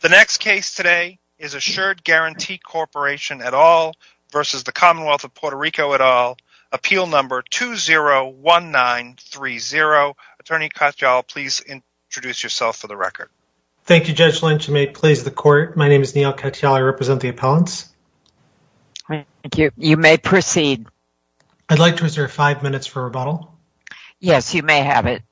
The next case today is Assured Guaranty Corporation et al. v. Commonwealth of Puerto Rico et al. Appeal number 201930. Attorney Katyal, please introduce yourself for the record. Thank you, Judge Lynch. You may please the court. My name is Neal Katyal. I represent the appellants. You may proceed. I'd like to reserve five minutes for rebuttal. Yes, you may have it.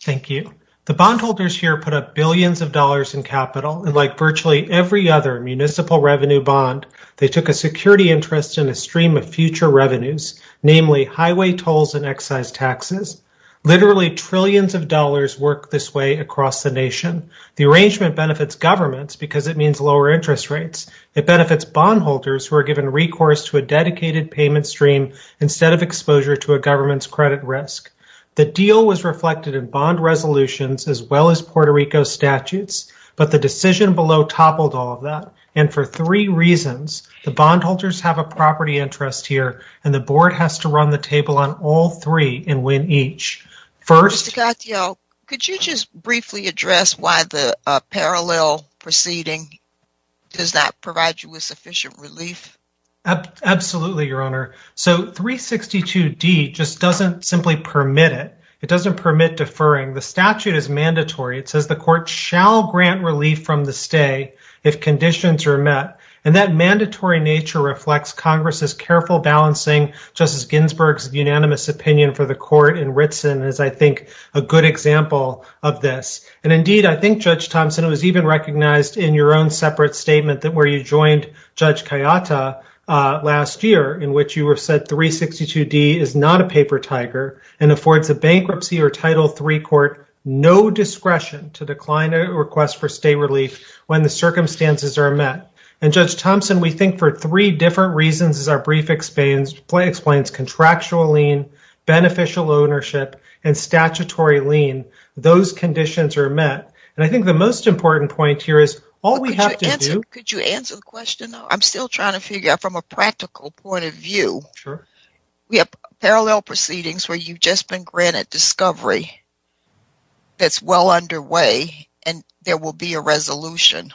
Thank you. The bondholders here put up billions of dollars in capital, and like virtually every other municipal revenue bond, they took a security interest in a stream of future revenues, namely highway tolls and excise taxes. Literally trillions of dollars work this way across the nation. The arrangement benefits governments because it means lower interest rates. It benefits bondholders who are given recourse to a dedicated payment stream instead of exposure to a government's credit risk. The deal was reflected in bond resolutions as well as Puerto Rico statutes, but the decision below toppled all of that, and for three reasons. The bondholders have a property interest here, and the board has to run the table on all three and win each. First, Mr. Katyal, could you just briefly address why the parallel proceeding? Does that provide you with sufficient relief? Absolutely, Your Honor. So 362D just doesn't simply permit it. It doesn't permit deferring. The statute is mandatory. It says the court shall grant relief from the stay if conditions are met, and that mandatory nature reflects Congress's careful balancing. Justice Ginsburg's unanimous opinion for the court in Ritsen is, I think, a good example of this, and indeed, I think, Judge Thompson, it was even recognized in your own separate statement that you joined Judge Kayata last year, in which you said 362D is not a paper tiger and affords a bankruptcy or Title III court no discretion to decline a request for stay relief when the circumstances are met. And Judge Thompson, we think for three different reasons, as our brief explains, contractual lien, beneficial ownership, and statutory lien, those conditions are met. And I think the important point here is all we have to do... Could you answer the question? I'm still trying to figure out from a practical point of view. Sure. We have parallel proceedings where you've just been granted discovery that's well underway, and there will be a resolution.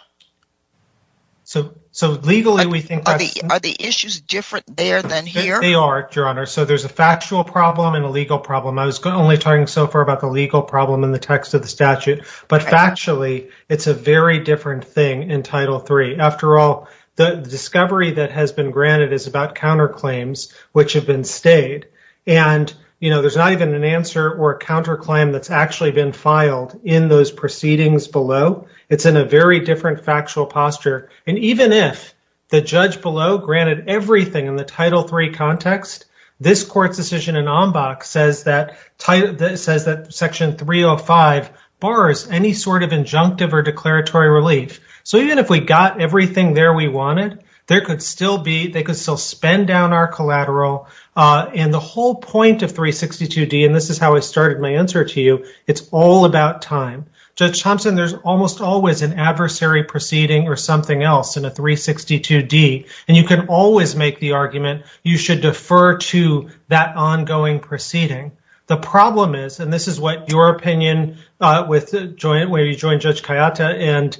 So legally, we think... Are the issues different there than here? They are, Your Honor. So there's a factual problem and a legal problem. I was only talking so far about the legal problem in the text of the statute. But factually, it's a very different thing in Title III. After all, the discovery that has been granted is about counterclaims, which have been stayed. And there's not even an answer or a counterclaim that's actually been filed in those proceedings below. It's in a very different factual posture. And even if the judge below granted everything in the Title III context, this court's decision in Ombach says that Section 305 bars any sort of injunctive or declaratory relief. So even if we got everything there we wanted, they could still suspend down our collateral. And the whole point of 362D, and this is how I started my answer to you, it's all about time. Judge Thompson, there's almost always an adversary proceeding or something else in a 362D. And you can always make the argument, you should defer to that ongoing proceeding. The problem is, and this is what your opinion, where you joined Judge Kayata and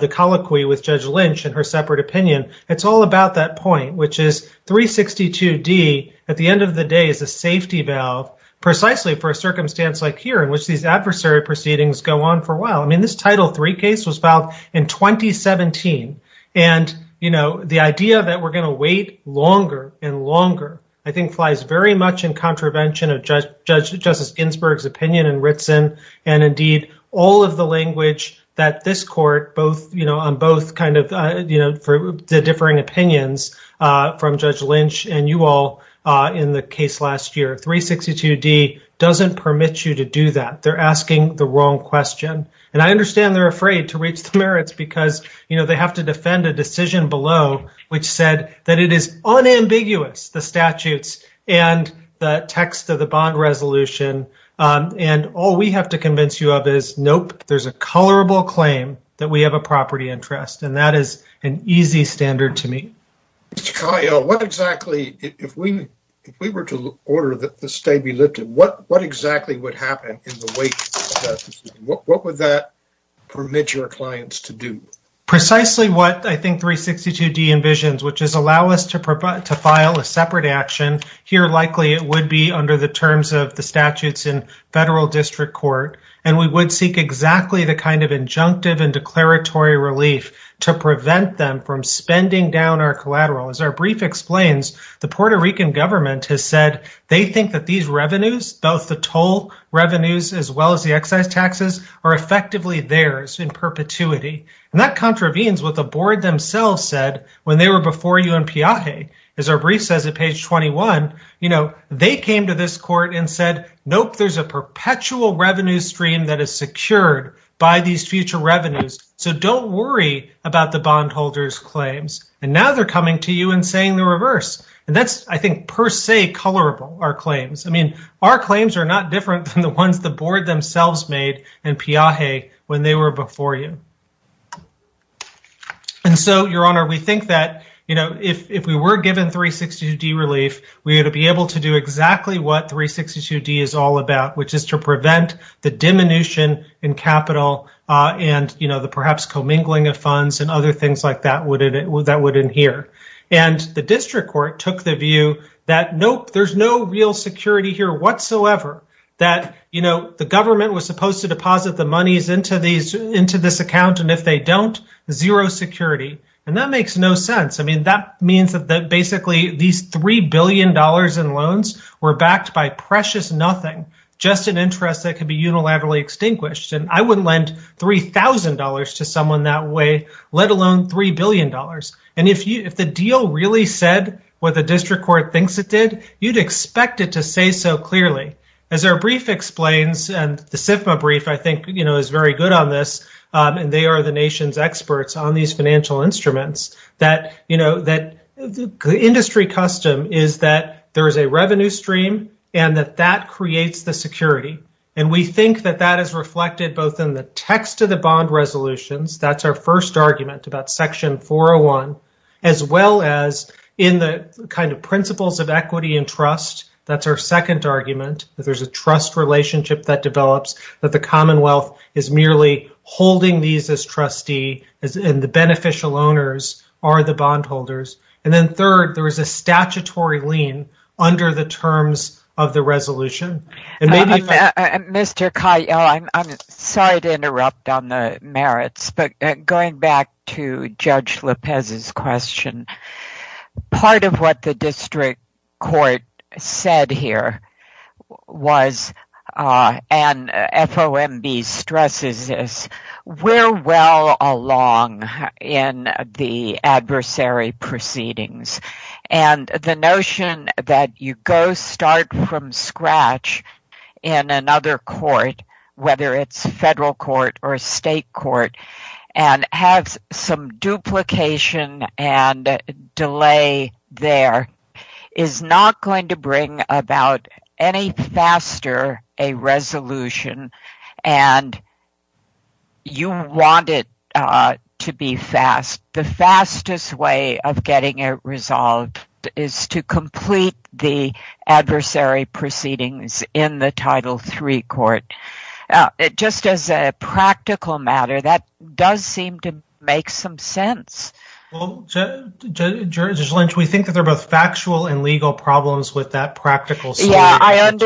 the colloquy with Judge Lynch and her separate opinion, it's all about that point, which is 362D, at the end of the day, is a safety valve, precisely for a circumstance like here in which these adversary proceedings go on for a while. I mean, this Title III case was filed in 2017. And the idea that we're going to wait longer and longer, I think, flies very much in contravention of Judge Justice Ginsburg's opinion in Ritson. And indeed, all of the language that this court, on both kind of differing opinions from Judge Lynch and you all in the case last year, 362D doesn't permit you to do that. They're asking the wrong question. And I understand they're afraid to reach the merits because they have to defend a decision below, which said that it is unambiguous, the statutes and the text of the bond resolution. And all we have to convince you of is, nope, there's a colorable claim that we have a property interest. And that is an easy standard to meet. Mr. Kyle, what exactly, if we were to order the stay be lifted, what exactly would happen in the wake of that decision? What would that permit your clients to do? Precisely what I think 362D envisions, which is allow us to file a separate action. Here, likely, it would be under the terms of the statutes in federal district court. And we would seek exactly the kind of As our brief explains, the Puerto Rican government has said they think that these revenues, both the toll revenues, as well as the excise taxes are effectively theirs in perpetuity. And that contravenes with the board themselves said when they were before you in Piaje, as our brief says at page 21, you know, they came to this court and said, nope, there's a perpetual revenue stream that is secured by these future revenues. So don't worry about the bondholders claims. And now they're coming to you and saying the reverse. And that's, I think, per se colorable our claims. I mean, our claims are not different than the ones the board themselves made in Piaje when they were before you. And so your honor, we think that, you know, if we were given 362D relief, we would be able to do exactly what 362D is all about, which is to prevent the diminution in capital. And, you know, the perhaps commingling of funds and other things like that would that would in here. And the district court took the view that, nope, there's no real security here whatsoever, that, you know, the government was supposed to deposit the monies into these into this account. And if they don't, zero security. And that makes no sense. I mean, that means that basically these three billion dollars in loans were backed by precious nothing, just an interest that could be unilaterally extinguished. And I wouldn't lend three thousand dollars to someone that way, let alone three billion dollars. And if you if the deal really said what the district court thinks it did, you'd expect it to say so clearly, as our brief explains. And the SIFMA brief, I think, you know, is very good on this. And they are the nation's experts on these financial instruments that, you know, that industry custom is that there is a revenue stream and that that creates the security. And we think that that is reflected both in the text of the bond resolutions. That's our first argument about Section 401, as well as in the kind of principles of equity and trust. That's our second argument, that there's a trust relationship that develops, that the Commonwealth is merely holding these as trustee and the beneficial owners are the of the resolution. Mr. Kyle, I'm sorry to interrupt on the merits, but going back to Judge Lopez's question, part of what the district court said here was, and FOMB stresses this, we're well along in the adversary proceedings. And the notion that you go start from scratch in another court, whether it's a federal court or a state court, and have some duplication and you want it to be fast, the fastest way of getting it resolved is to complete the adversary proceedings in the Title III court. Just as a practical matter, that does seem to make some sense. Judge Lynch, we think that they're both factual and legal problems with that practical solution. I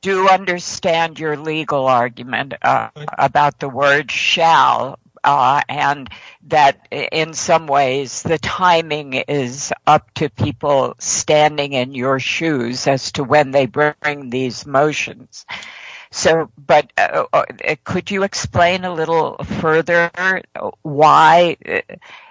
do understand your legal argument about the word shall and that in some ways, the timing is up to people standing in your shoes as to when they bring these motions. So, but could you explain a little further why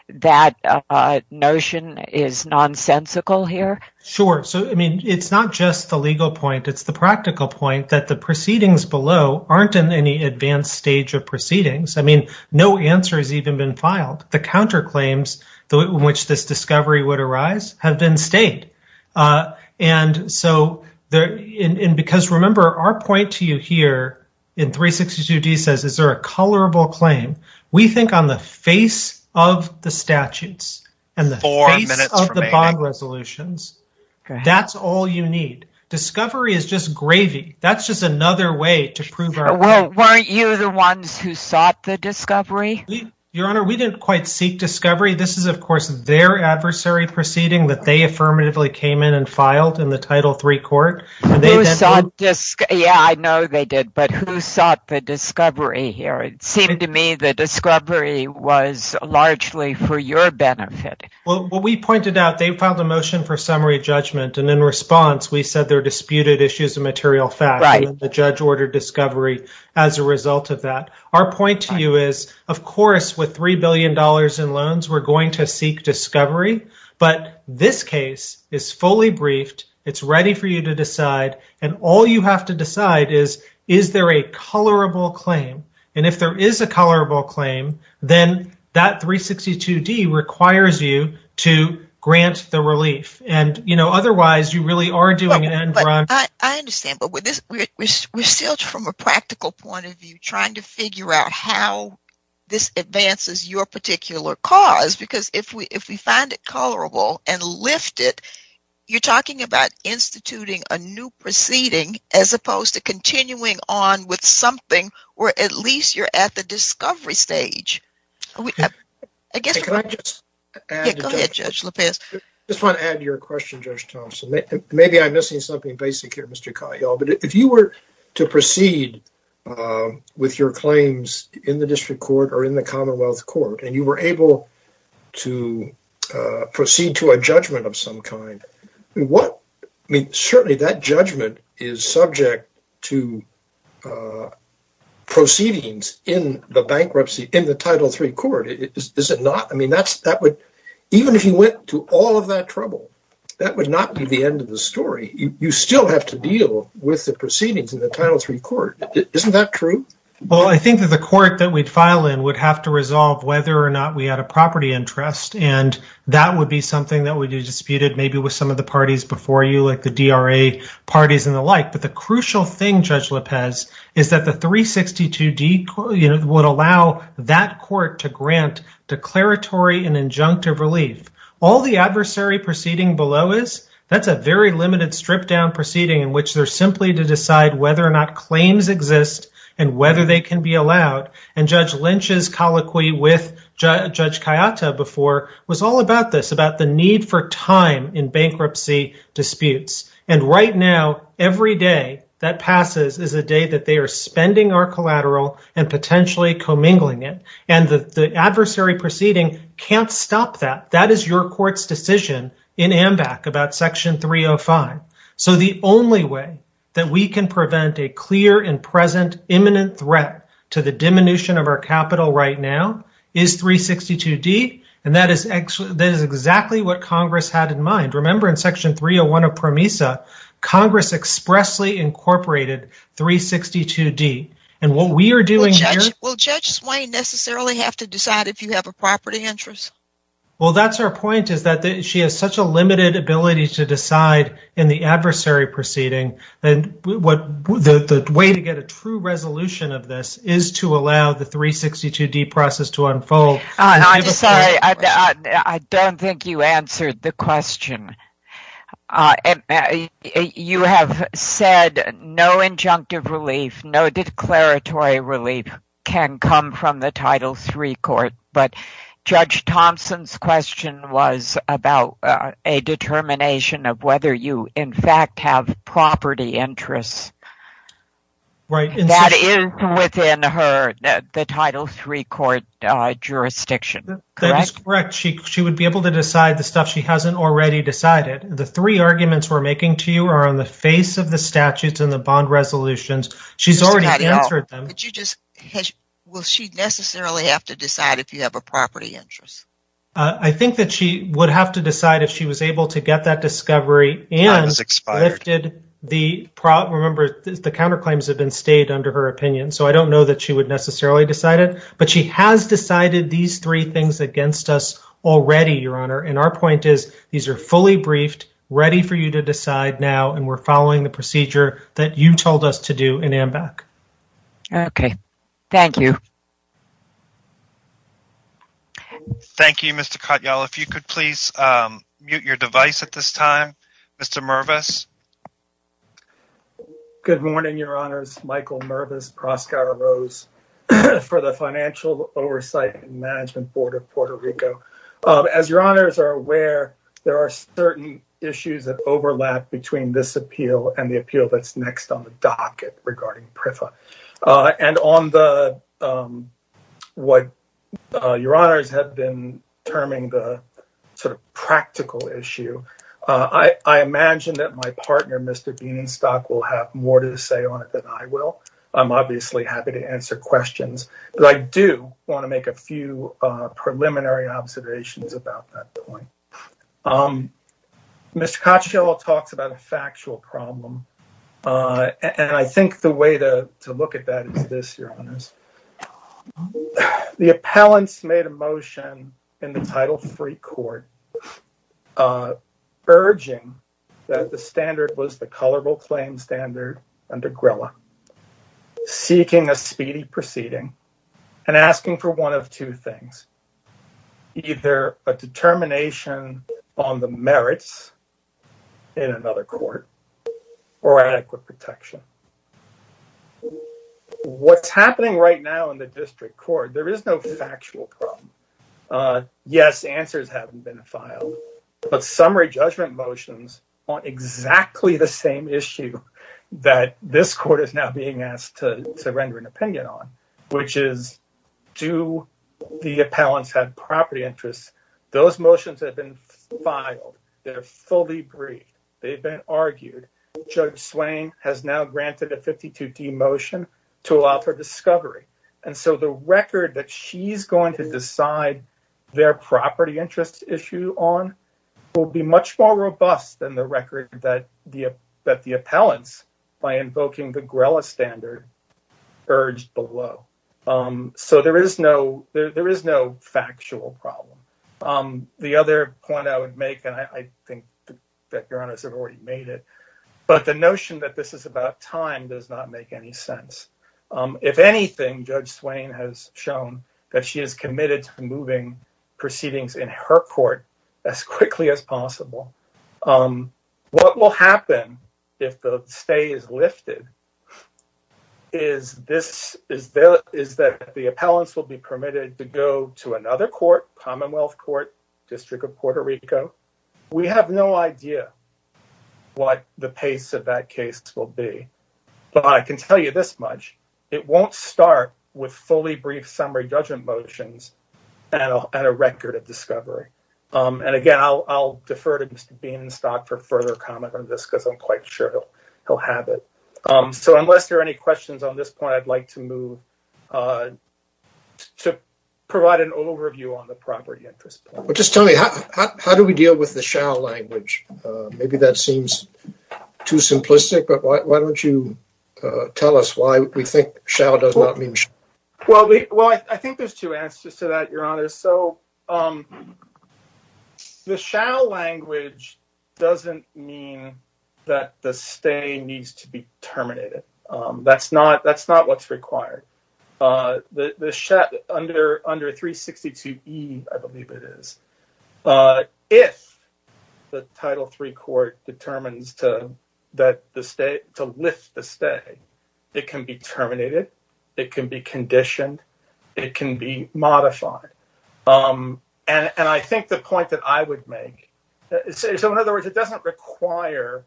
that notion is nonsensical here? Sure. So, I mean, it's not just the legal point, it's the practical point that the proceedings below aren't in any advanced stage of proceedings. I mean, no answer has even been filed. The counterclaims in which this discovery would arise have been state. And so, because remember, our point to you here in 362D says, is there a colorable claim? We think on the face of the statutes and the face of the bond resolutions, that's all you need. Discovery is just gravy. That's just another way to prove our point. Weren't you the ones who sought the discovery? Your Honor, we didn't quite seek discovery. This is, of course, their adversary proceeding that they affirmatively came in and filed in the Title III court. Yeah, I know they did. But who sought the discovery here? It seemed to me the discovery was largely for your benefit. Well, what we pointed out, they filed a motion for summary judgment. And in response, we said there are disputed issues of material facts. The judge ordered discovery as a result of that. Our point to you is, of course, with $3 billion in loans, we're going to seek discovery. But this case is fully briefed. It's ready for you to decide. And all you have to decide is, is there a colorable claim? And if there is a colorable claim, then that 362D requires you to grant the relief. And, you know, otherwise, you really are doing it. I understand. But we're still, from a practical point of view, trying to figure out how this advances your particular cause. Because if we find it colorable and lift it, you're talking about instituting a new proceeding as opposed to continuing on with something where at least you're at the discovery stage. Can I just add to your question, Judge Thompson? Maybe I'm missing something basic here, Mr. Katyal. But if you were to proceed with your claims in the District Court or in the Commonwealth Court, and you were able to proceed to a judgment of some kind, what, I mean, certainly that judgment is subject to proceedings in the bankruptcy, in the Title III Court. Is it not? I mean, that would, even if you went to all of that trouble, that would not be the end of the story. You still have to deal with the proceedings in the Title III Court. Isn't that true? Well, I think that the court that we'd file in would have to resolve whether or not we had a property interest. And that would be something that would be disputed maybe with some of the parties before you, like the DRA parties and the like. But the crucial thing, Judge Lopez, is that the 362D would allow that court to grant declaratory and injunctive relief. All the adversary proceeding below is, that's a very limited, stripped-down proceeding in which they're simply to decide whether or not claims exist and whether they can be allowed. And Judge Lynch's colloquy with Judge Kayata before was all about this, about the need for time in bankruptcy disputes. And right now, every day that passes is a day that they are spending our collateral and potentially commingling it. And the adversary proceeding can't stop that. That is your court's decision in AMBAC about Section 305. So the only way that we can prevent a clear and present imminent threat to the diminution of our capital right now is 362D. And that is exactly what Congress had in mind. Remember in Section 301 of PROMESA, Congress expressly incorporated 362D. And what we are doing here... Will Judge Swain necessarily have to decide if you have a property interest? Well, that's her point, is that she has such a limited ability to decide in the adversary proceeding. And the way to get a true resolution of this is to allow the 362D process to unfold. I'm sorry, I don't think you answered the question. You have said no injunctive relief, no declaratory relief can come from the Title III Court. But Judge Thompson's question was about a determination of whether you, in fact, have property interests. That is within the Title III Court jurisdiction, correct? Correct. She would be able to decide the stuff she hasn't already decided. The three arguments we're making to you are on the face of the statutes and the bond resolutions. She's already answered them. Will she necessarily have to decide if you have a property interest? I think that she would have to decide if she was able to get that discovery and lifted the... Remember, the counterclaims have been stayed under her opinion. So I don't know that she necessarily decided. But she has decided these three things against us already, Your Honor. And our point is, these are fully briefed, ready for you to decide now, and we're following the procedure that you told us to do in AMBAC. Okay. Thank you. Thank you, Mr. Katyal. If you could please mute your device at this time, Mr. Mervis. Good morning, Your Honors. Michael Mervis, Proskauer Rose for the Financial Oversight and Management Board of Puerto Rico. As Your Honors are aware, there are certain issues that overlap between this appeal and the appeal that's next on the docket regarding PRFA. And on what Your Honors have been terming the sort of practical issue, I imagine that my partner, Mr. Bienenstock, will have more to say on it than I will. I'm obviously happy to answer questions. But I do want to make a few preliminary observations about that point. Mr. Katyal talks about a factual problem. And I think the way to look at that is this, Your Honors. The appellants made a motion in the Title III Court urging that the standard was the colorable claim standard under GRILLA, seeking a speedy proceeding and asking for one of two things, either a determination on the merits in another court or adequate protection. What's happening right now in the district court, there is no factual problem. Yes, answers haven't been filed. But summary judgment motions on exactly the same issue that this court is now being asked to render an opinion on, which is do the appellants have Judge Swain has now granted a 52D motion to allow for discovery. And so the record that she's going to decide their property interest issue on will be much more robust than the record that the appellants, by invoking the GRILLA standard, urged below. So there is no factual problem. The other point I would make, and I think that Your Honors have already made it, but the notion that this is about time does not make any sense. If anything, Judge Swain has shown that she is committed to moving proceedings in her court as quickly as possible. What will happen if the stay is lifted is that the appellants will be able to move proceedings as quickly as possible. So I have no idea what the pace of that case will be. But I can tell you this much, it won't start with fully brief summary judgment motions and a record of discovery. And again, I'll defer to Mr. Bean and Stock for further comment on this because I'm quite sure he'll have it. So unless there are any questions on this point, I'd like to provide an overview on the property interest. Just tell me, how do we deal with the shall language? Maybe that seems too simplistic, but why don't you tell us why we think shall does not mean shall? Well, I think there's two answers to that, Your Honors. So the shall language doesn't mean that the stay needs to be terminated. That's not what's required. The shall under 362E, I believe it is, if the Title III Court determines to lift the stay, it can be terminated, it can be conditioned, it can be modified. And I think the point that I would make, so in other words, it doesn't require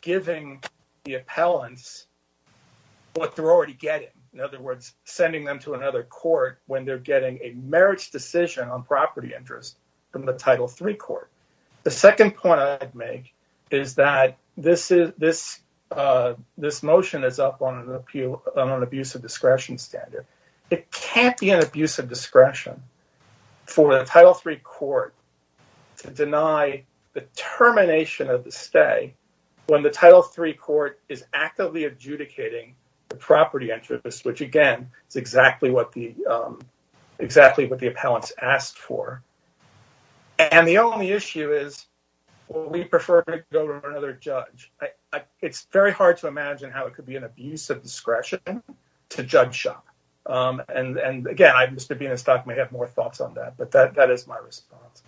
giving the appellants what they're already getting. In other words, sending them to another court when they're getting a marriage decision on property interest from the Title III Court. The second point I'd make is that this motion is up on an abuse of discretion standard. It can't be an abuse of discretion for the Title III Court to deny the termination of the stay when the Title III Court is actively adjudicating the property interest, which again, is exactly what the appellants asked for. And the only issue is, will we prefer to go to another judge? It's very hard to imagine how it could be an abuse of discretion to judge shall. And again, Mr. Bienenstock may have more thoughts on that, but that is my response.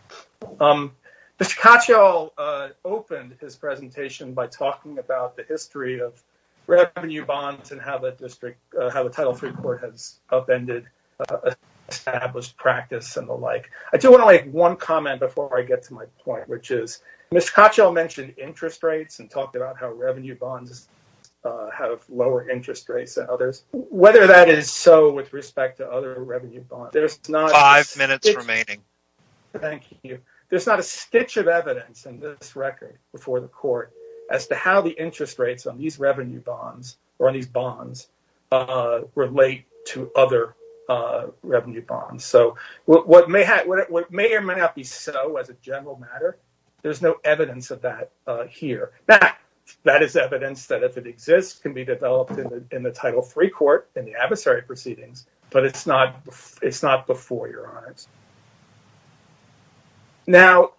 Mr. Katyal opened his presentation by talking about the district, how the Title III Court has upended established practice and the like. I do want to make one comment before I get to my point, which is, Mr. Katyal mentioned interest rates and talked about how revenue bonds have lower interest rates than others. Whether that is so with respect to other revenue bonds, there's not- Five minutes remaining. Thank you. There's not a stitch of evidence in this record before the court as to how the bonds relate to other revenue bonds. So what may or may not be so as a general matter, there's no evidence of that here. That is evidence that if it exists, can be developed in the Title III Court and the adversary proceedings, but it's not before your eyes. Now,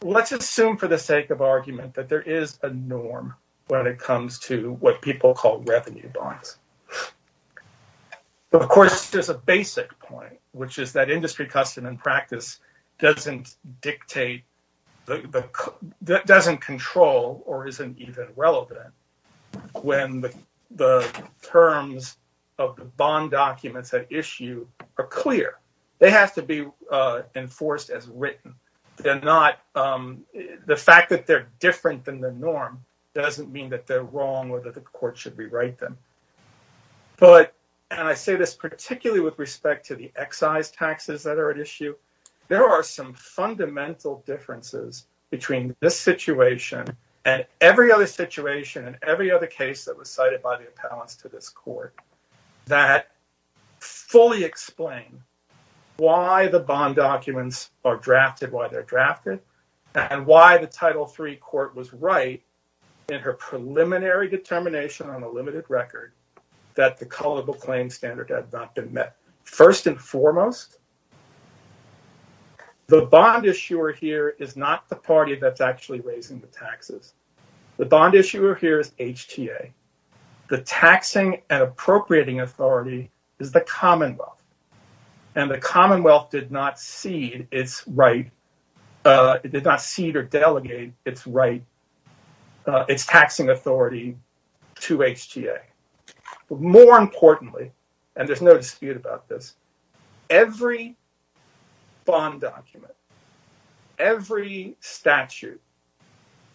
let's assume for the sake of argument that there is a norm when it comes to what people call revenue bonds. Of course, there's a basic point, which is that industry custom and practice doesn't control or isn't even relevant when the terms of the bond documents at issue are clear. They have to be enforced as written. The fact that they're different than the norm doesn't mean that they're wrong or that the court should rewrite them. But, and I say this particularly with respect to the excise taxes that are at issue, there are some fundamental differences between this situation and every other situation and every other case that was cited by the appellants to this court that fully explain why the bond in her preliminary determination on a limited record that the culpable claim standard had not been met. First and foremost, the bond issuer here is not the party that's actually raising the taxes. The bond issuer here is HTA. The taxing and appropriating authority is the Commonwealth. And the Commonwealth did not cede or delegate its taxing authority to HTA. More importantly, and there's no dispute about this, every bond document, every statute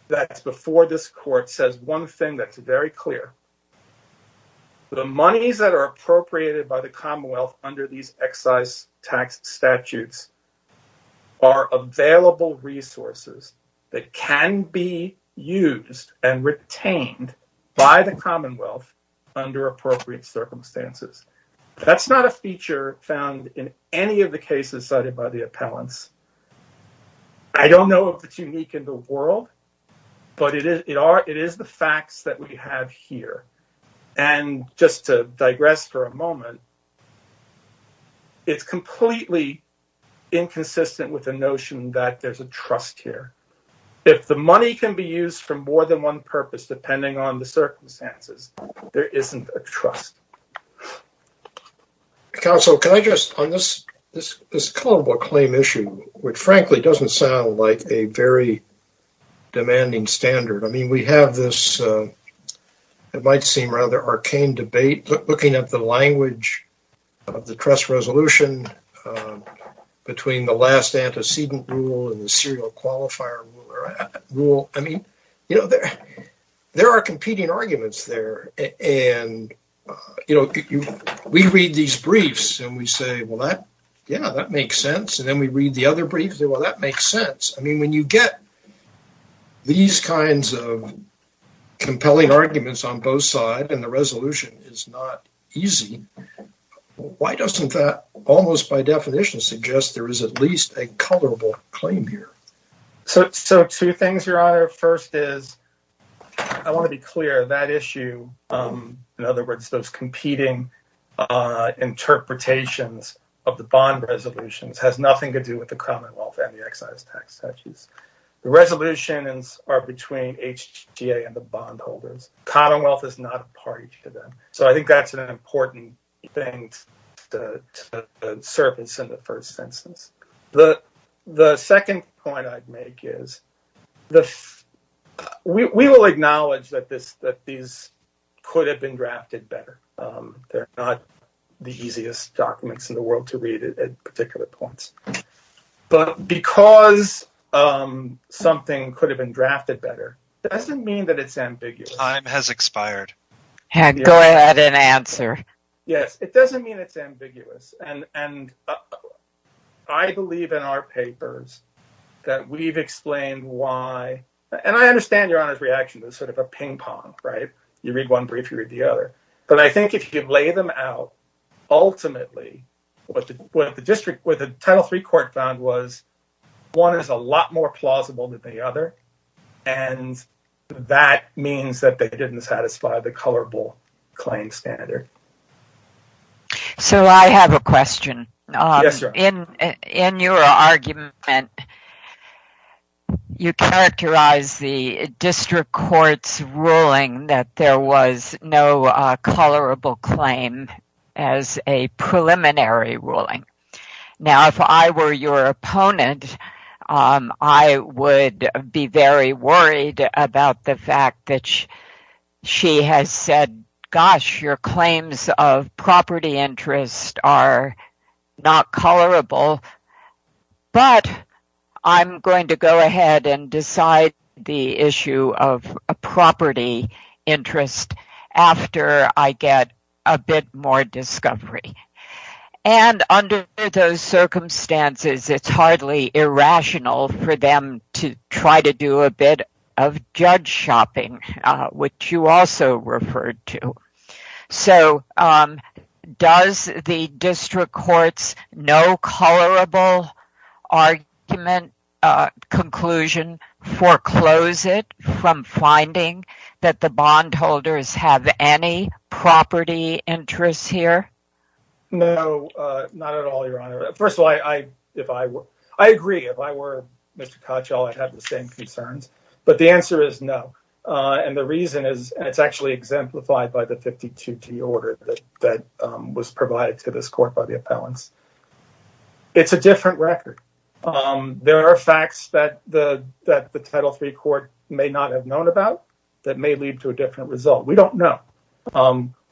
that's before this court says one thing that's very clear, the monies that are appropriated by the Commonwealth under these excise tax statutes are available resources that can be used and retained by the Commonwealth under appropriate circumstances. That's not a feature found in any of the cases cited by the appellants. I don't know if it's unique in the world, but it is the facts that we have here. And just to digress for a moment, it's completely inconsistent with the notion that there's a trust here. If the money can be used for more than one purpose, depending on the circumstances, there isn't a trust. Counsel, can I just, on this culpable claim issue, which frankly doesn't sound like a very demanding standard. I mean, we have this, it might seem rather arcane debate, looking at the language of the trust resolution between the last antecedent rule and the serial qualifier rule. I mean, there are competing arguments there and we read these briefs and we get these kinds of compelling arguments on both sides and the resolution is not easy. Why doesn't that almost by definition suggest there is at least a culpable claim here? So, two things, Your Honor. First is, I want to be clear, that issue, in other words, those competing interpretations of the bond resolutions has nothing to do with the Commonwealth and the excise tax statutes. The resolutions are between HTA and the bondholders. Commonwealth is not a party to them. So, I think that's an important thing to surface in the first instance. The second point I'd make is, we will acknowledge that these could have been drafted better. They're not the easiest documents in the world to read at because something could have been drafted better. It doesn't mean that it's ambiguous. Time has expired. Go ahead and answer. Yes, it doesn't mean it's ambiguous and I believe in our papers that we've explained why, and I understand Your Honor's reaction to sort of a ping pong, right? You read one brief, you read the other, but I think if you lay them out, ultimately, what the district, what the one is a lot more plausible than the other, and that means that they didn't satisfy the colorable claim standard. So, I have a question. Yes, Your Honor. In your argument, you characterize the district court's ruling that there was no colorable claim as a preliminary ruling. Now, if I were your opponent, I would be very worried about the fact that she has said, gosh, your claims of property interest are not colorable, but I'm going to go ahead and decide the issue of property interest after I get a bit more discovery, and under those circumstances, it's hardly irrational for them to try to do a bit of judge shopping, which you also referred to. So, does the district court's no colorable argument conclusion foreclose it from finding that the bondholders have any property interests here? No, not at all, Your Honor. First of all, I agree. If I were Mr. Koch, I'd have the same concerns, but the answer is no, and the reason is it's actually exemplified by the 52D order that was provided to this court by the appellants. It's a different record. There are facts that the Title III court may not have known about that may lead to a different result. We don't know.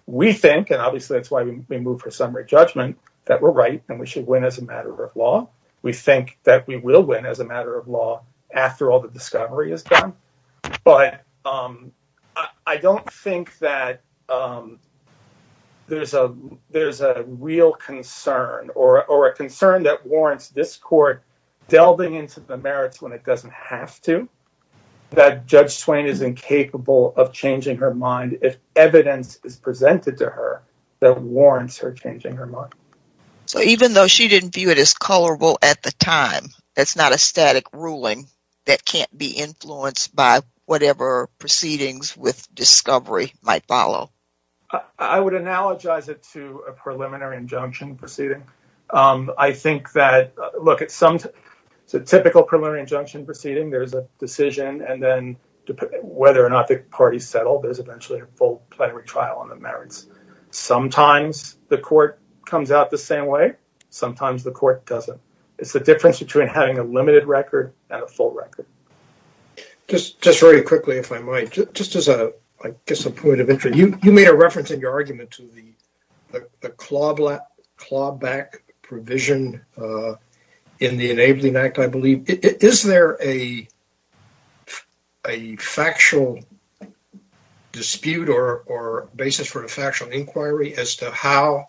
We think, and obviously that's why we move for summary judgment, that we're right and we should win as a matter of law. We think that we will win as a matter of law after all the discovery is done, but I don't think that there's a real concern or a concern that warrants this court delving into the merits when it doesn't have to, that Judge Swain is incapable of changing her mind if evidence is presented to her that warrants her changing her mind. So, even though she didn't view it as at the time, that's not a static ruling that can't be influenced by whatever proceedings with discovery might follow. I would analogize it to a preliminary injunction proceeding. I think that, look, it's a typical preliminary injunction proceeding. There's a decision and then, whether or not the parties settle, there's eventually a full plenary trial on the merits. Sometimes the court comes out the same way, sometimes the court doesn't. It's the difference between having a limited record and a full record. Just very quickly, if I might, just as a point of entry, you made a reference in your argument to the clawback provision in the Enabling Act, I believe. Is there a factual dispute or basis for a factual inquiry as to how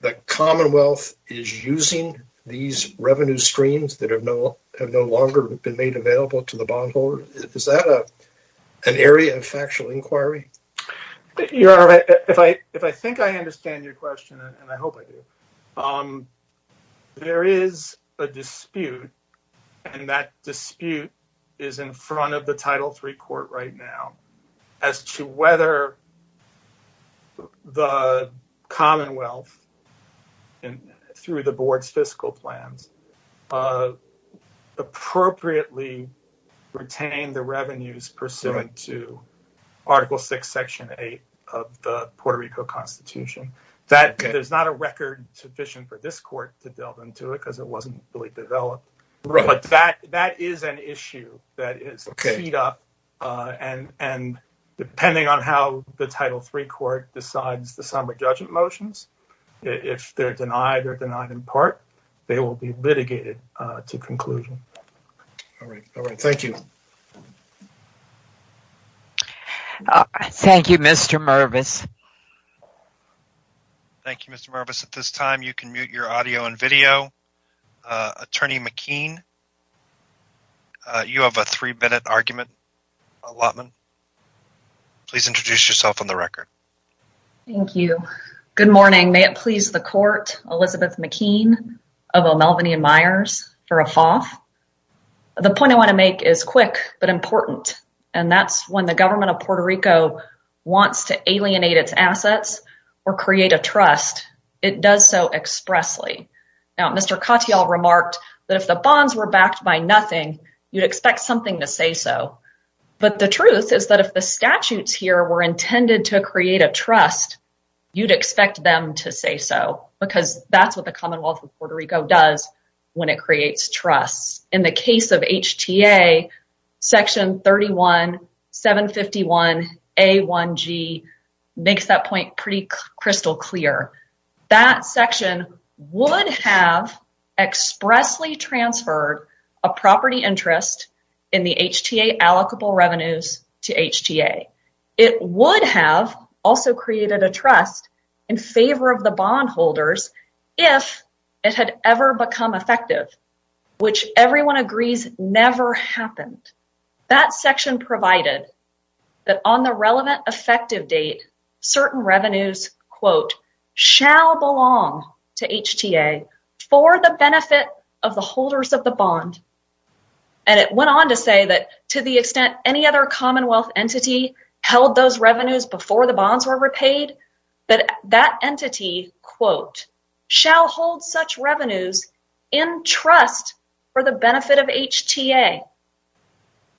the Commonwealth is using these revenue streams that have no longer been made available to the bondholder? Is that an area of factual inquiry? Your Honor, if I think I understand your question, and I hope I do, there is a dispute, and that dispute is in front of the Title III Court right now, as to whether the Commonwealth, through the Board's fiscal plans, appropriately retained the revenues pursuant to Article VI, Section 8 of the Puerto Rico Constitution. There's not a record sufficient for this court to delve into it because it wasn't really developed, but that is an issue that is teed up, and depending on how the Title III Court decides the summary judgment motions, if they're denied or denied in part, they will be litigated to conclusion. All right, all right. Thank you. Thank you, Mr. Mervis. Thank you, Mr. Mervis. At this time, you can mute your audio and video. Attorney McKean, you have a three-minute argument, Allotman. Please introduce yourself on the record. Thank you. Good morning. May it please the Court, Elizabeth McKean of O'Melveny and Myers for a brief introduction. I'm going to start with a very brief argument, but important, and that's when the government of Puerto Rico wants to alienate its assets or create a trust, it does so expressly. Now, Mr. Cotillard remarked that if the bonds were backed by nothing, you'd expect something to say so, but the truth is that if the statutes here were intended to create a trust, you'd expect them to say so, because that's what the Commonwealth of Puerto Rico does when it creates trusts. In the case of HTA, section 31751A1G makes that point pretty crystal clear. That section would have expressly transferred a property interest in the HTA allocable revenues to HTA. It would have also created a trust in favor of the bondholders if it had ever become effective, which everyone agrees never happened. That section provided that on the relevant effective date, certain revenues, quote, shall belong to HTA for the benefit of the holders of the bond, and it went on to say that to the extent any other Commonwealth entity held those revenues before the bonds were repaid, that that entity, quote, shall hold such revenues in trust for the benefit of HTA,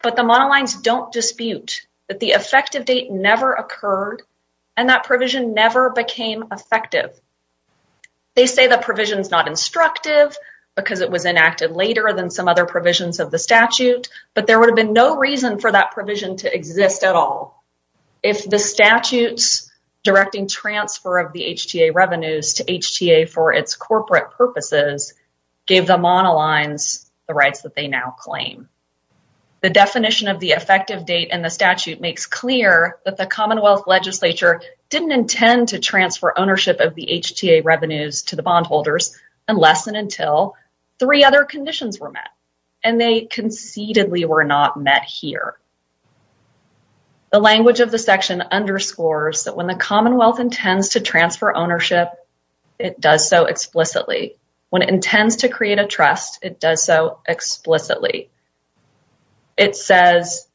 but the monolines don't dispute that the effective date never occurred and that provision never became effective. They say the provision's not instructive because it was enacted later than some other provisions of the statute, but there would have been no reason for that provision to exist at all if the statutes directing transfer of the HTA revenues to HTA for its corporate purposes gave the monolines the rights that they now claim. The definition of the effective date in the statute makes clear that the Commonwealth legislature didn't intend to and they concededly were not met here. The language of the section underscores that when the Commonwealth intends to transfer ownership, it does so explicitly. When it intends to create a trust, it does so explicitly. It says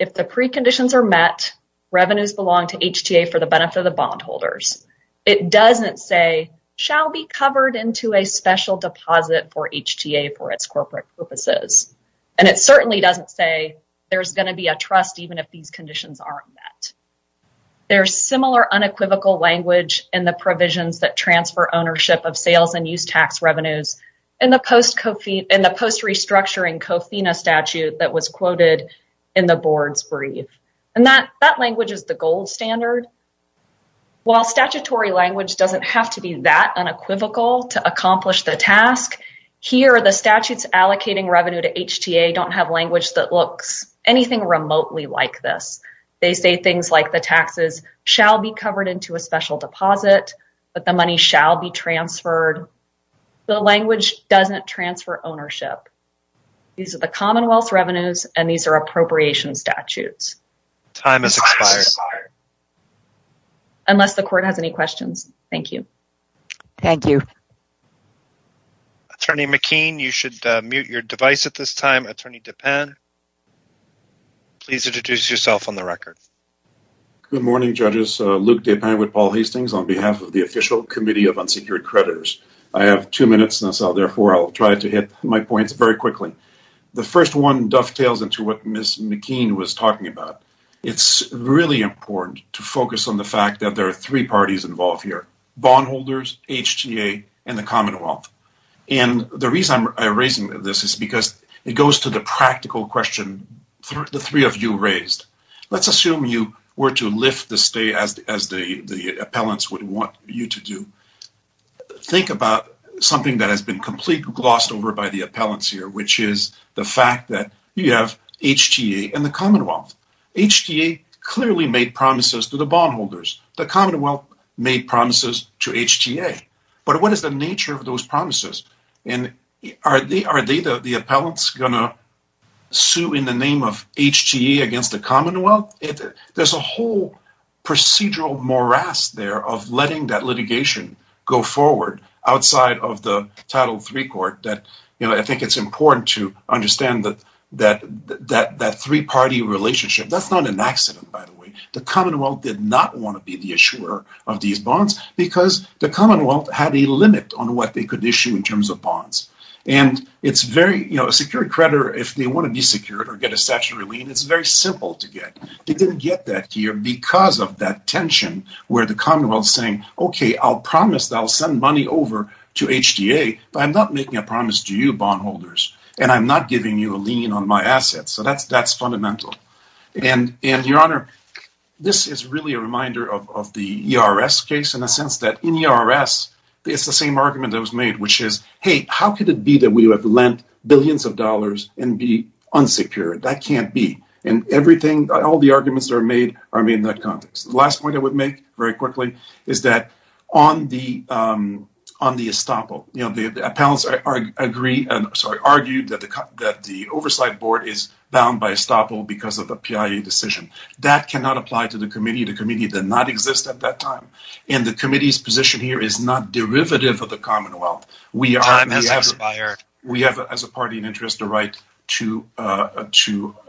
if the preconditions are met, revenues belong to HTA for the benefit of the bondholders. It doesn't say shall be covered into a special deposit for HTA for its corporate purposes, and it certainly doesn't say there's going to be a trust even if these conditions aren't met. There's similar unequivocal language in the provisions that transfer ownership of sales and use tax revenues in the post restructuring COFINA statute that was While statutory language doesn't have to be that unequivocal to accomplish the task, here the statutes allocating revenue to HTA don't have language that looks anything remotely like this. They say things like the taxes shall be covered into a special deposit, but the money shall be transferred. The language doesn't transfer ownership. These are the Commonwealth revenues and these are appropriation statutes. Time has expired. Unless the court has any questions. Thank you. Thank you. Attorney McKean, you should mute your device at this time. Attorney Dupin, please introduce yourself on the record. Good morning judges. Luke Dupin with Paul Hastings on behalf of the official committee of unsecured creditors. I have two minutes, therefore I'll try to hit my points very quickly. The first one dovetails into what Ms. McKean was talking about. It's really important to focus on the fact that there are three parties involved here, bondholders, HTA, and the Commonwealth. The reason I'm raising this is because it goes to the practical question the three of you raised. Let's assume you were to lift the stay as the appellants would want you to do. Think about something that has been completely glossed over by the appellants here, which is the fact that you have HTA and the Commonwealth. HTA clearly made promises to the bondholders. The Commonwealth made promises to HTA, but what is the nature of those promises? Are the appellants going to sue in the name of HTA against the Commonwealth? There's a whole procedural morass there of letting that litigation go forward outside of the title three court. I think it's important to understand that three-party relationship. That's not an accident, by the way. The Commonwealth did not want to be the issuer of these bonds because the Commonwealth had a limit on what they could issue in terms of bonds. A secured creditor, if they want to be secured or get that here because of that tension where the Commonwealth is saying, okay, I'll promise that I'll send money over to HTA, but I'm not making a promise to you bondholders and I'm not giving you a lien on my assets. That's fundamental. This is really a reminder of the ERS case in a sense that in ERS, it's the same argument that was made, which is, hey, how could it be that we have lent billions of dollars and be unsecured? That can't be. All the arguments are made in that context. The last point I would make very quickly is that on the estoppel, the appellants argued that the oversight board is bound by estoppel because of the PIA decision. That cannot apply to the committee. The committee did not exist at that time. The committee's position here is not derivative of the Commonwealth. We have, as a party in interest, the right to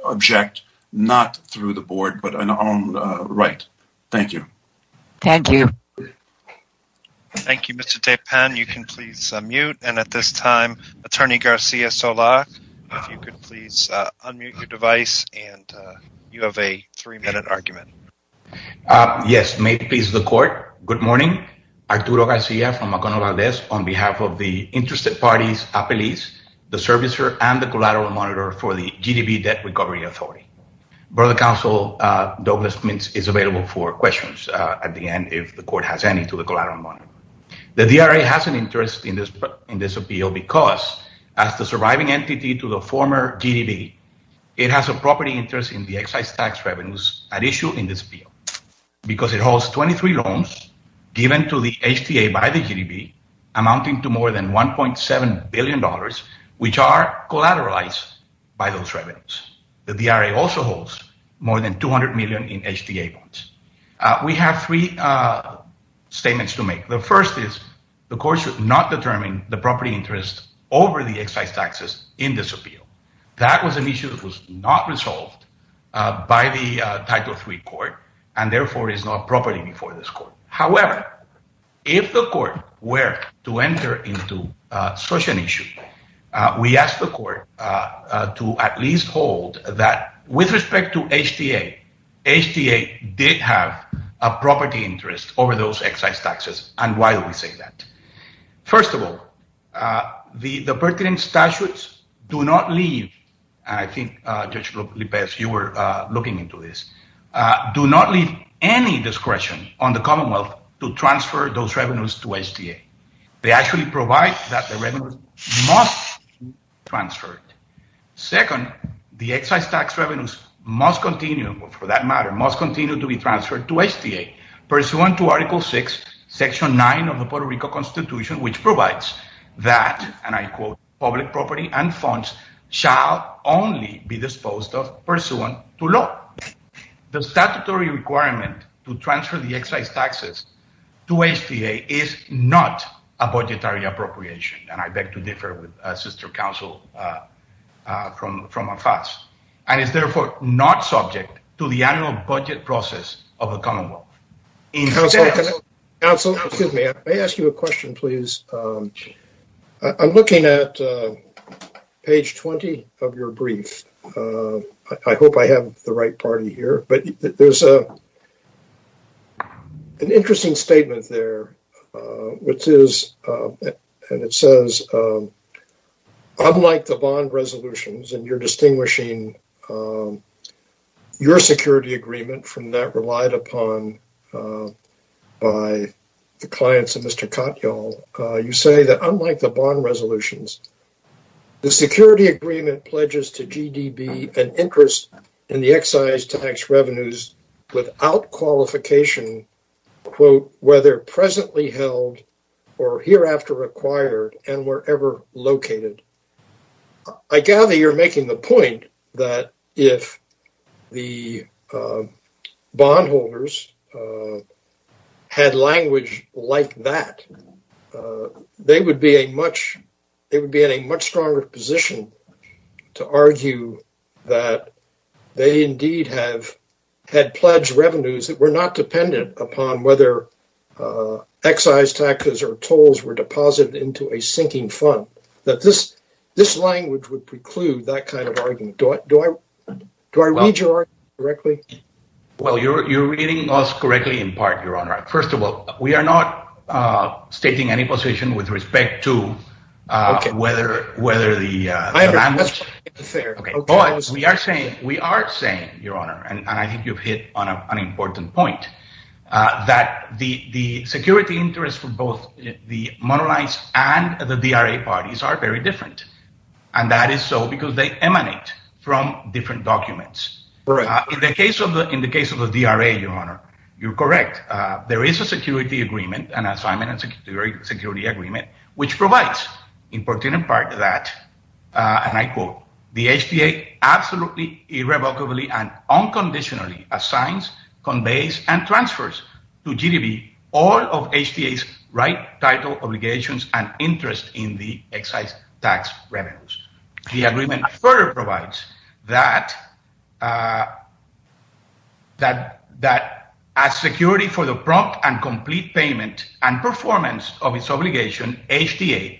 object, not through the board, but an armed right. Thank you. Thank you. Thank you, Mr. Tepin. You can please mute and at this time, Attorney Garcia Solak, if you could please unmute your device and you have a three-minute argument. Yes, may it please the court, good morning. Arturo Garcia from McConnell Valdez on behalf of the interested parties appellees, the servicer and the collateral monitor for the GDB debt recovery authority. Board of counsel Douglas Mintz is available for questions at the end if the court has any to the collateral monitor. The DRA has an interest in this appeal because as the surviving entity to the former GDB, it has a property interest in the excise tax revenues at issue in this appeal because it holds 23 loans given to the HTA by the GDB amounting to more than $1.7 billion, which are collateralized by those revenues. The DRA also holds more than 200 million in HTA bonds. We have three statements to make. The first is the court should not determine the property interest over the excise taxes in this appeal. That was an issue that was not resolved by the title three court and therefore is not property before this court. However, if the court were to enter into such an issue, we ask the court to at least hold that with respect to HTA, HTA did have a property interest over those excise taxes. And why do I say that? First of all, the pertinent statutes do not leave, I think Judge Lopez, you were looking into this, do not leave any discretion on the Commonwealth to transfer those revenues to HTA. They actually provide that the revenues must be transferred. Second, the excise tax revenues must continue for that matter, must continue to be transferred to HTA pursuant to section nine of the Puerto Rico constitution, which provides that, and I quote, public property and funds shall only be disposed of pursuant to law. The statutory requirement to transfer the excise taxes to HTA is not a budgetary appropriation. And I beg to differ with sister counsel from AFAS and is therefore not subject to the annual budget process of the Commonwealth. Counsel, excuse me, I may ask you a question, please. I'm looking at page 20 of your brief. I hope I have the right party here, but there's an interesting statement there, which is, and it says, unlike the bond resolutions, and you're distinguishing your security agreement from that relied upon by the clients of Mr. Katyal, you say that unlike the bond resolutions, the security agreement pledges to GDB an interest in the excise tax revenues without qualification, quote, whether presently held or hereafter acquired and wherever located. I gather you're making the point that if the bondholders had language like that, they would be in a much stronger position to argue that they indeed have had pledged revenues that were not dependent upon whether excise taxes or tolls were deposited into a sinking fund. That this language would preclude that kind of argument. Do I read your argument correctly? Well, you're reading us correctly in part, Your Honor. First of all, we are not stating any position with respect to whether the language, but we are saying, we are saying, Your Honor, and I think you've hit on an important point, that the security interest for both the parties are very different, and that is so because they emanate from different documents. In the case of the DRA, Your Honor, you're correct. There is a security agreement, an assignment and security agreement, which provides important part of that, and I quote, the HTA absolutely irrevocably and unconditionally assigns, conveys, and transfers to GDB all of the excise tax revenues. The agreement further provides that as security for the prompt and complete payment and performance of its obligation, HTA,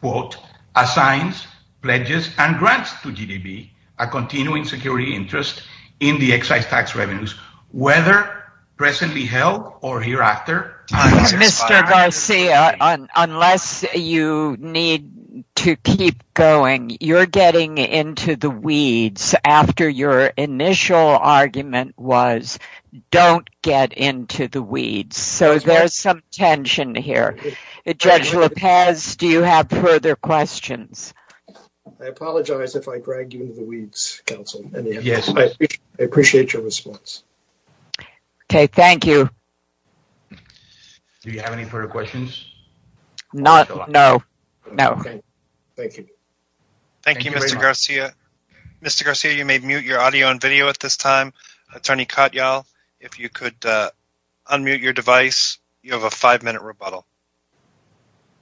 quote, assigns, pledges, and grants to GDB a continuing security interest in the excise tax revenues, whether presently held or hereafter. Mr. Garcia, unless you need to keep going, you're getting into the weeds after your initial argument was, don't get into the weeds, so there's some tension here. Judge Lopez, do you have further questions? I apologize if I dragged you into the weeds, counsel. Yes, I appreciate your response. Okay, thank you. Do you have any further questions? Not, no, no. Thank you. Thank you, Mr. Garcia. Mr. Garcia, you may mute your audio and video at this time. Attorney Katyal, if you could unmute your device, you have a five-minute rebuttal.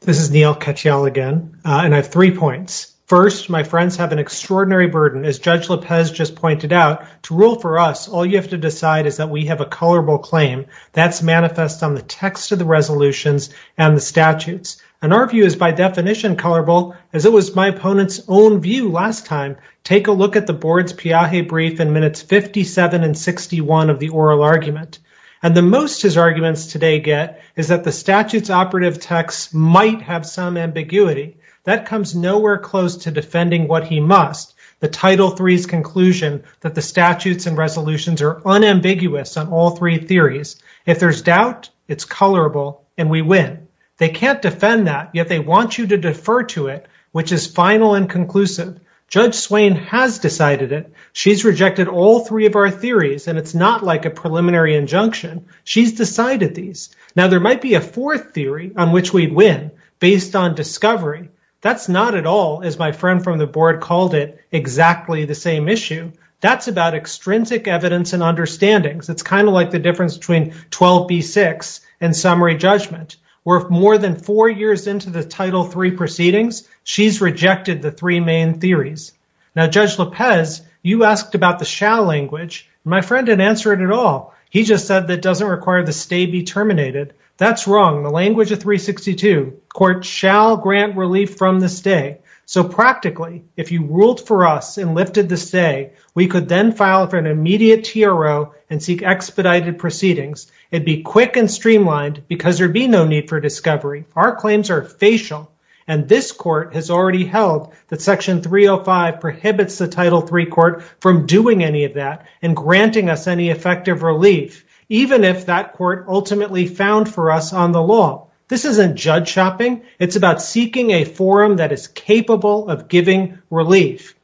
This is Neil Katyal again, and I have three points. First, my friends have an extraordinary burden. As Judge Lopez just pointed out, to rule for us, all you have to decide is that we have a colorable claim that's manifest on the text of the resolutions and the statutes, and our view is by definition colorable, as it was my opponent's own view last time. Take a look at the board's Piaget brief in minutes 57 and 61 of the oral argument, and the most his arguments today get is that the statute's operative text might have some ambiguity. That comes nowhere close to defending what he must, the title three's conclusion that the statutes and resolutions are unambiguous on all three theories. If there's doubt, it's colorable, and we win. They can't defend that, yet they want you to defer to it, which is final and conclusive. Judge Swain has decided it. She's rejected all three of our theories, and it's not like a preliminary injunction. She's decided these. Now, there might be a fourth theory on which we'd win based on discovery. That's not at all, as my friend from the board called it, exactly the same issue. That's about extrinsic evidence and understandings. It's kind of like the difference between 12b-6 and summary judgment, where if more than four years into the title three proceedings, she's rejected the three main theories. Now, Judge Lopez, you asked about the shall language. My friend didn't answer it at all. He just said that doesn't require the stay be terminated. That's wrong. The language of 362, court shall grant relief from the stay. So practically, if you ruled for us and lifted the stay, we could then file for an immediate TRO and seek expedited proceedings. It'd be quick and streamlined because there'd be no need for discovery. Our claims are facial, and this court has already held that section 305 prohibits the title three court from doing any of that and granting us any effective relief, even if that court ultimately found for us on the law. This isn't judge shopping. It's about seeking a forum that is capable of giving relief.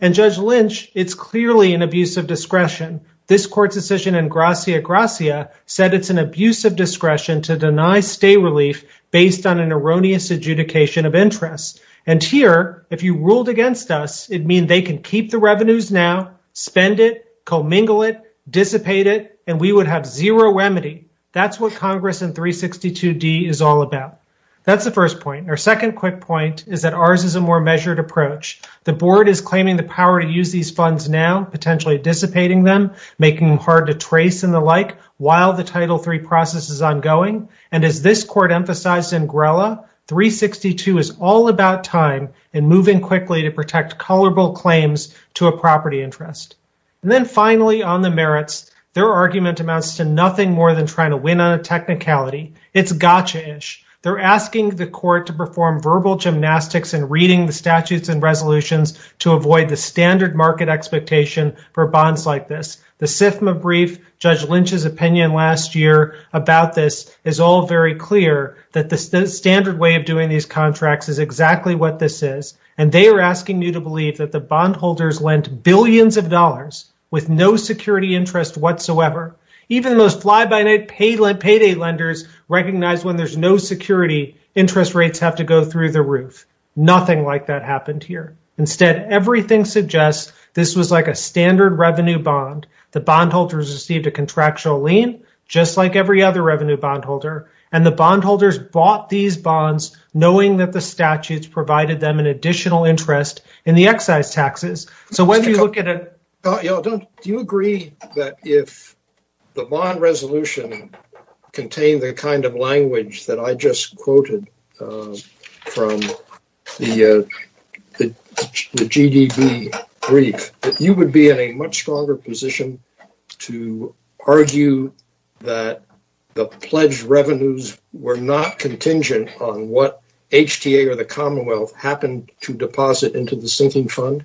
And Judge Lynch, it's clearly an abuse of discretion. This court's decision in gracia gracia said it's an abuse of discretion to deny stay relief based on an erroneous adjudication of interest. And here, if you ruled against us, it'd mean they can keep the revenues now, spend it, commingle it, dissipate it, and we would have zero remedy. That's what Congress in 362D is all about. That's the first point. Our second quick point is that ours is a more measured approach. The board is claiming the power to use these funds now, potentially dissipating them, making them hard to trace and the like, while the title three process is ongoing. And as this court emphasized in Grella, 362 is all about time and moving quickly to protect colorable claims to a property interest. And then finally on the merits, their argument amounts to nothing more than trying to win on a technicality. It's gotcha-ish. They're asking the court to perform verbal gymnastics and reading the statutes and resolutions to avoid the standard market expectation for bonds like this. The SIFMA brief, Judge Lynch's opinion last year about this is all very clear that the standard way of doing these contracts is exactly what this is. And they are billions of dollars with no security interest whatsoever. Even the most fly-by-night payday lenders recognize when there's no security, interest rates have to go through the roof. Nothing like that happened here. Instead, everything suggests this was like a standard revenue bond. The bondholders received a contractual lien, just like every other revenue bondholder. And the bondholders bought these bonds knowing that the statutes provided them an additional interest in the excise taxes. Do you agree that if the bond resolution contained the kind of language that I just quoted from the GDB brief, that you would be in a much stronger position to argue that the pledged revenues were not contingent on what HTA or deposit into the sinking fund?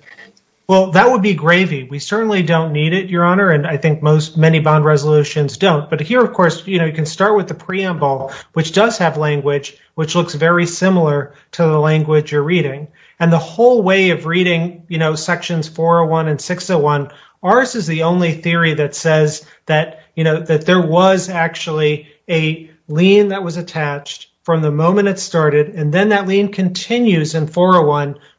Well, that would be gravy. We certainly don't need it, Your Honor. And I think many bond resolutions don't. But here, of course, you can start with the preamble, which does have language, which looks very similar to the language you're reading. And the whole way of reading sections 401 and 601, ours is the only theory that says that there was actually a lien that was attached from the moment it started. And then that lien continues in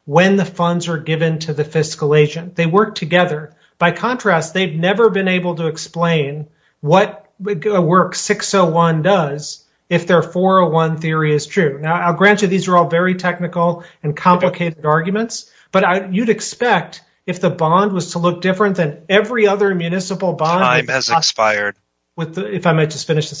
when the funds are given to the fiscal agent. They work together. By contrast, they've never been able to explain what 601 does if their 401 theory is true. Now, I'll grant you these are all very technical and complicated arguments. But you'd expect if the bond was to look different than every other municipal bond. Time has expired. If I might just finish with the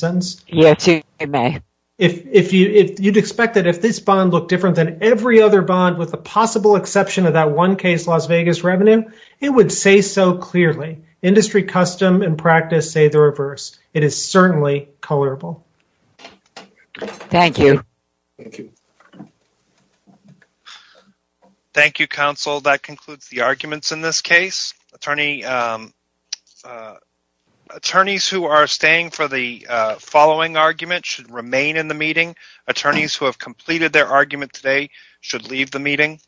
possible exception of that one case Las Vegas revenue, it would say so clearly. Industry custom and practice say the reverse. It is certainly colorable. Thank you. Thank you, counsel. That concludes the arguments in this case. Attorneys who are staying for the following argument should remain in the meeting. Attorneys who have completed their argument today should leave the meeting.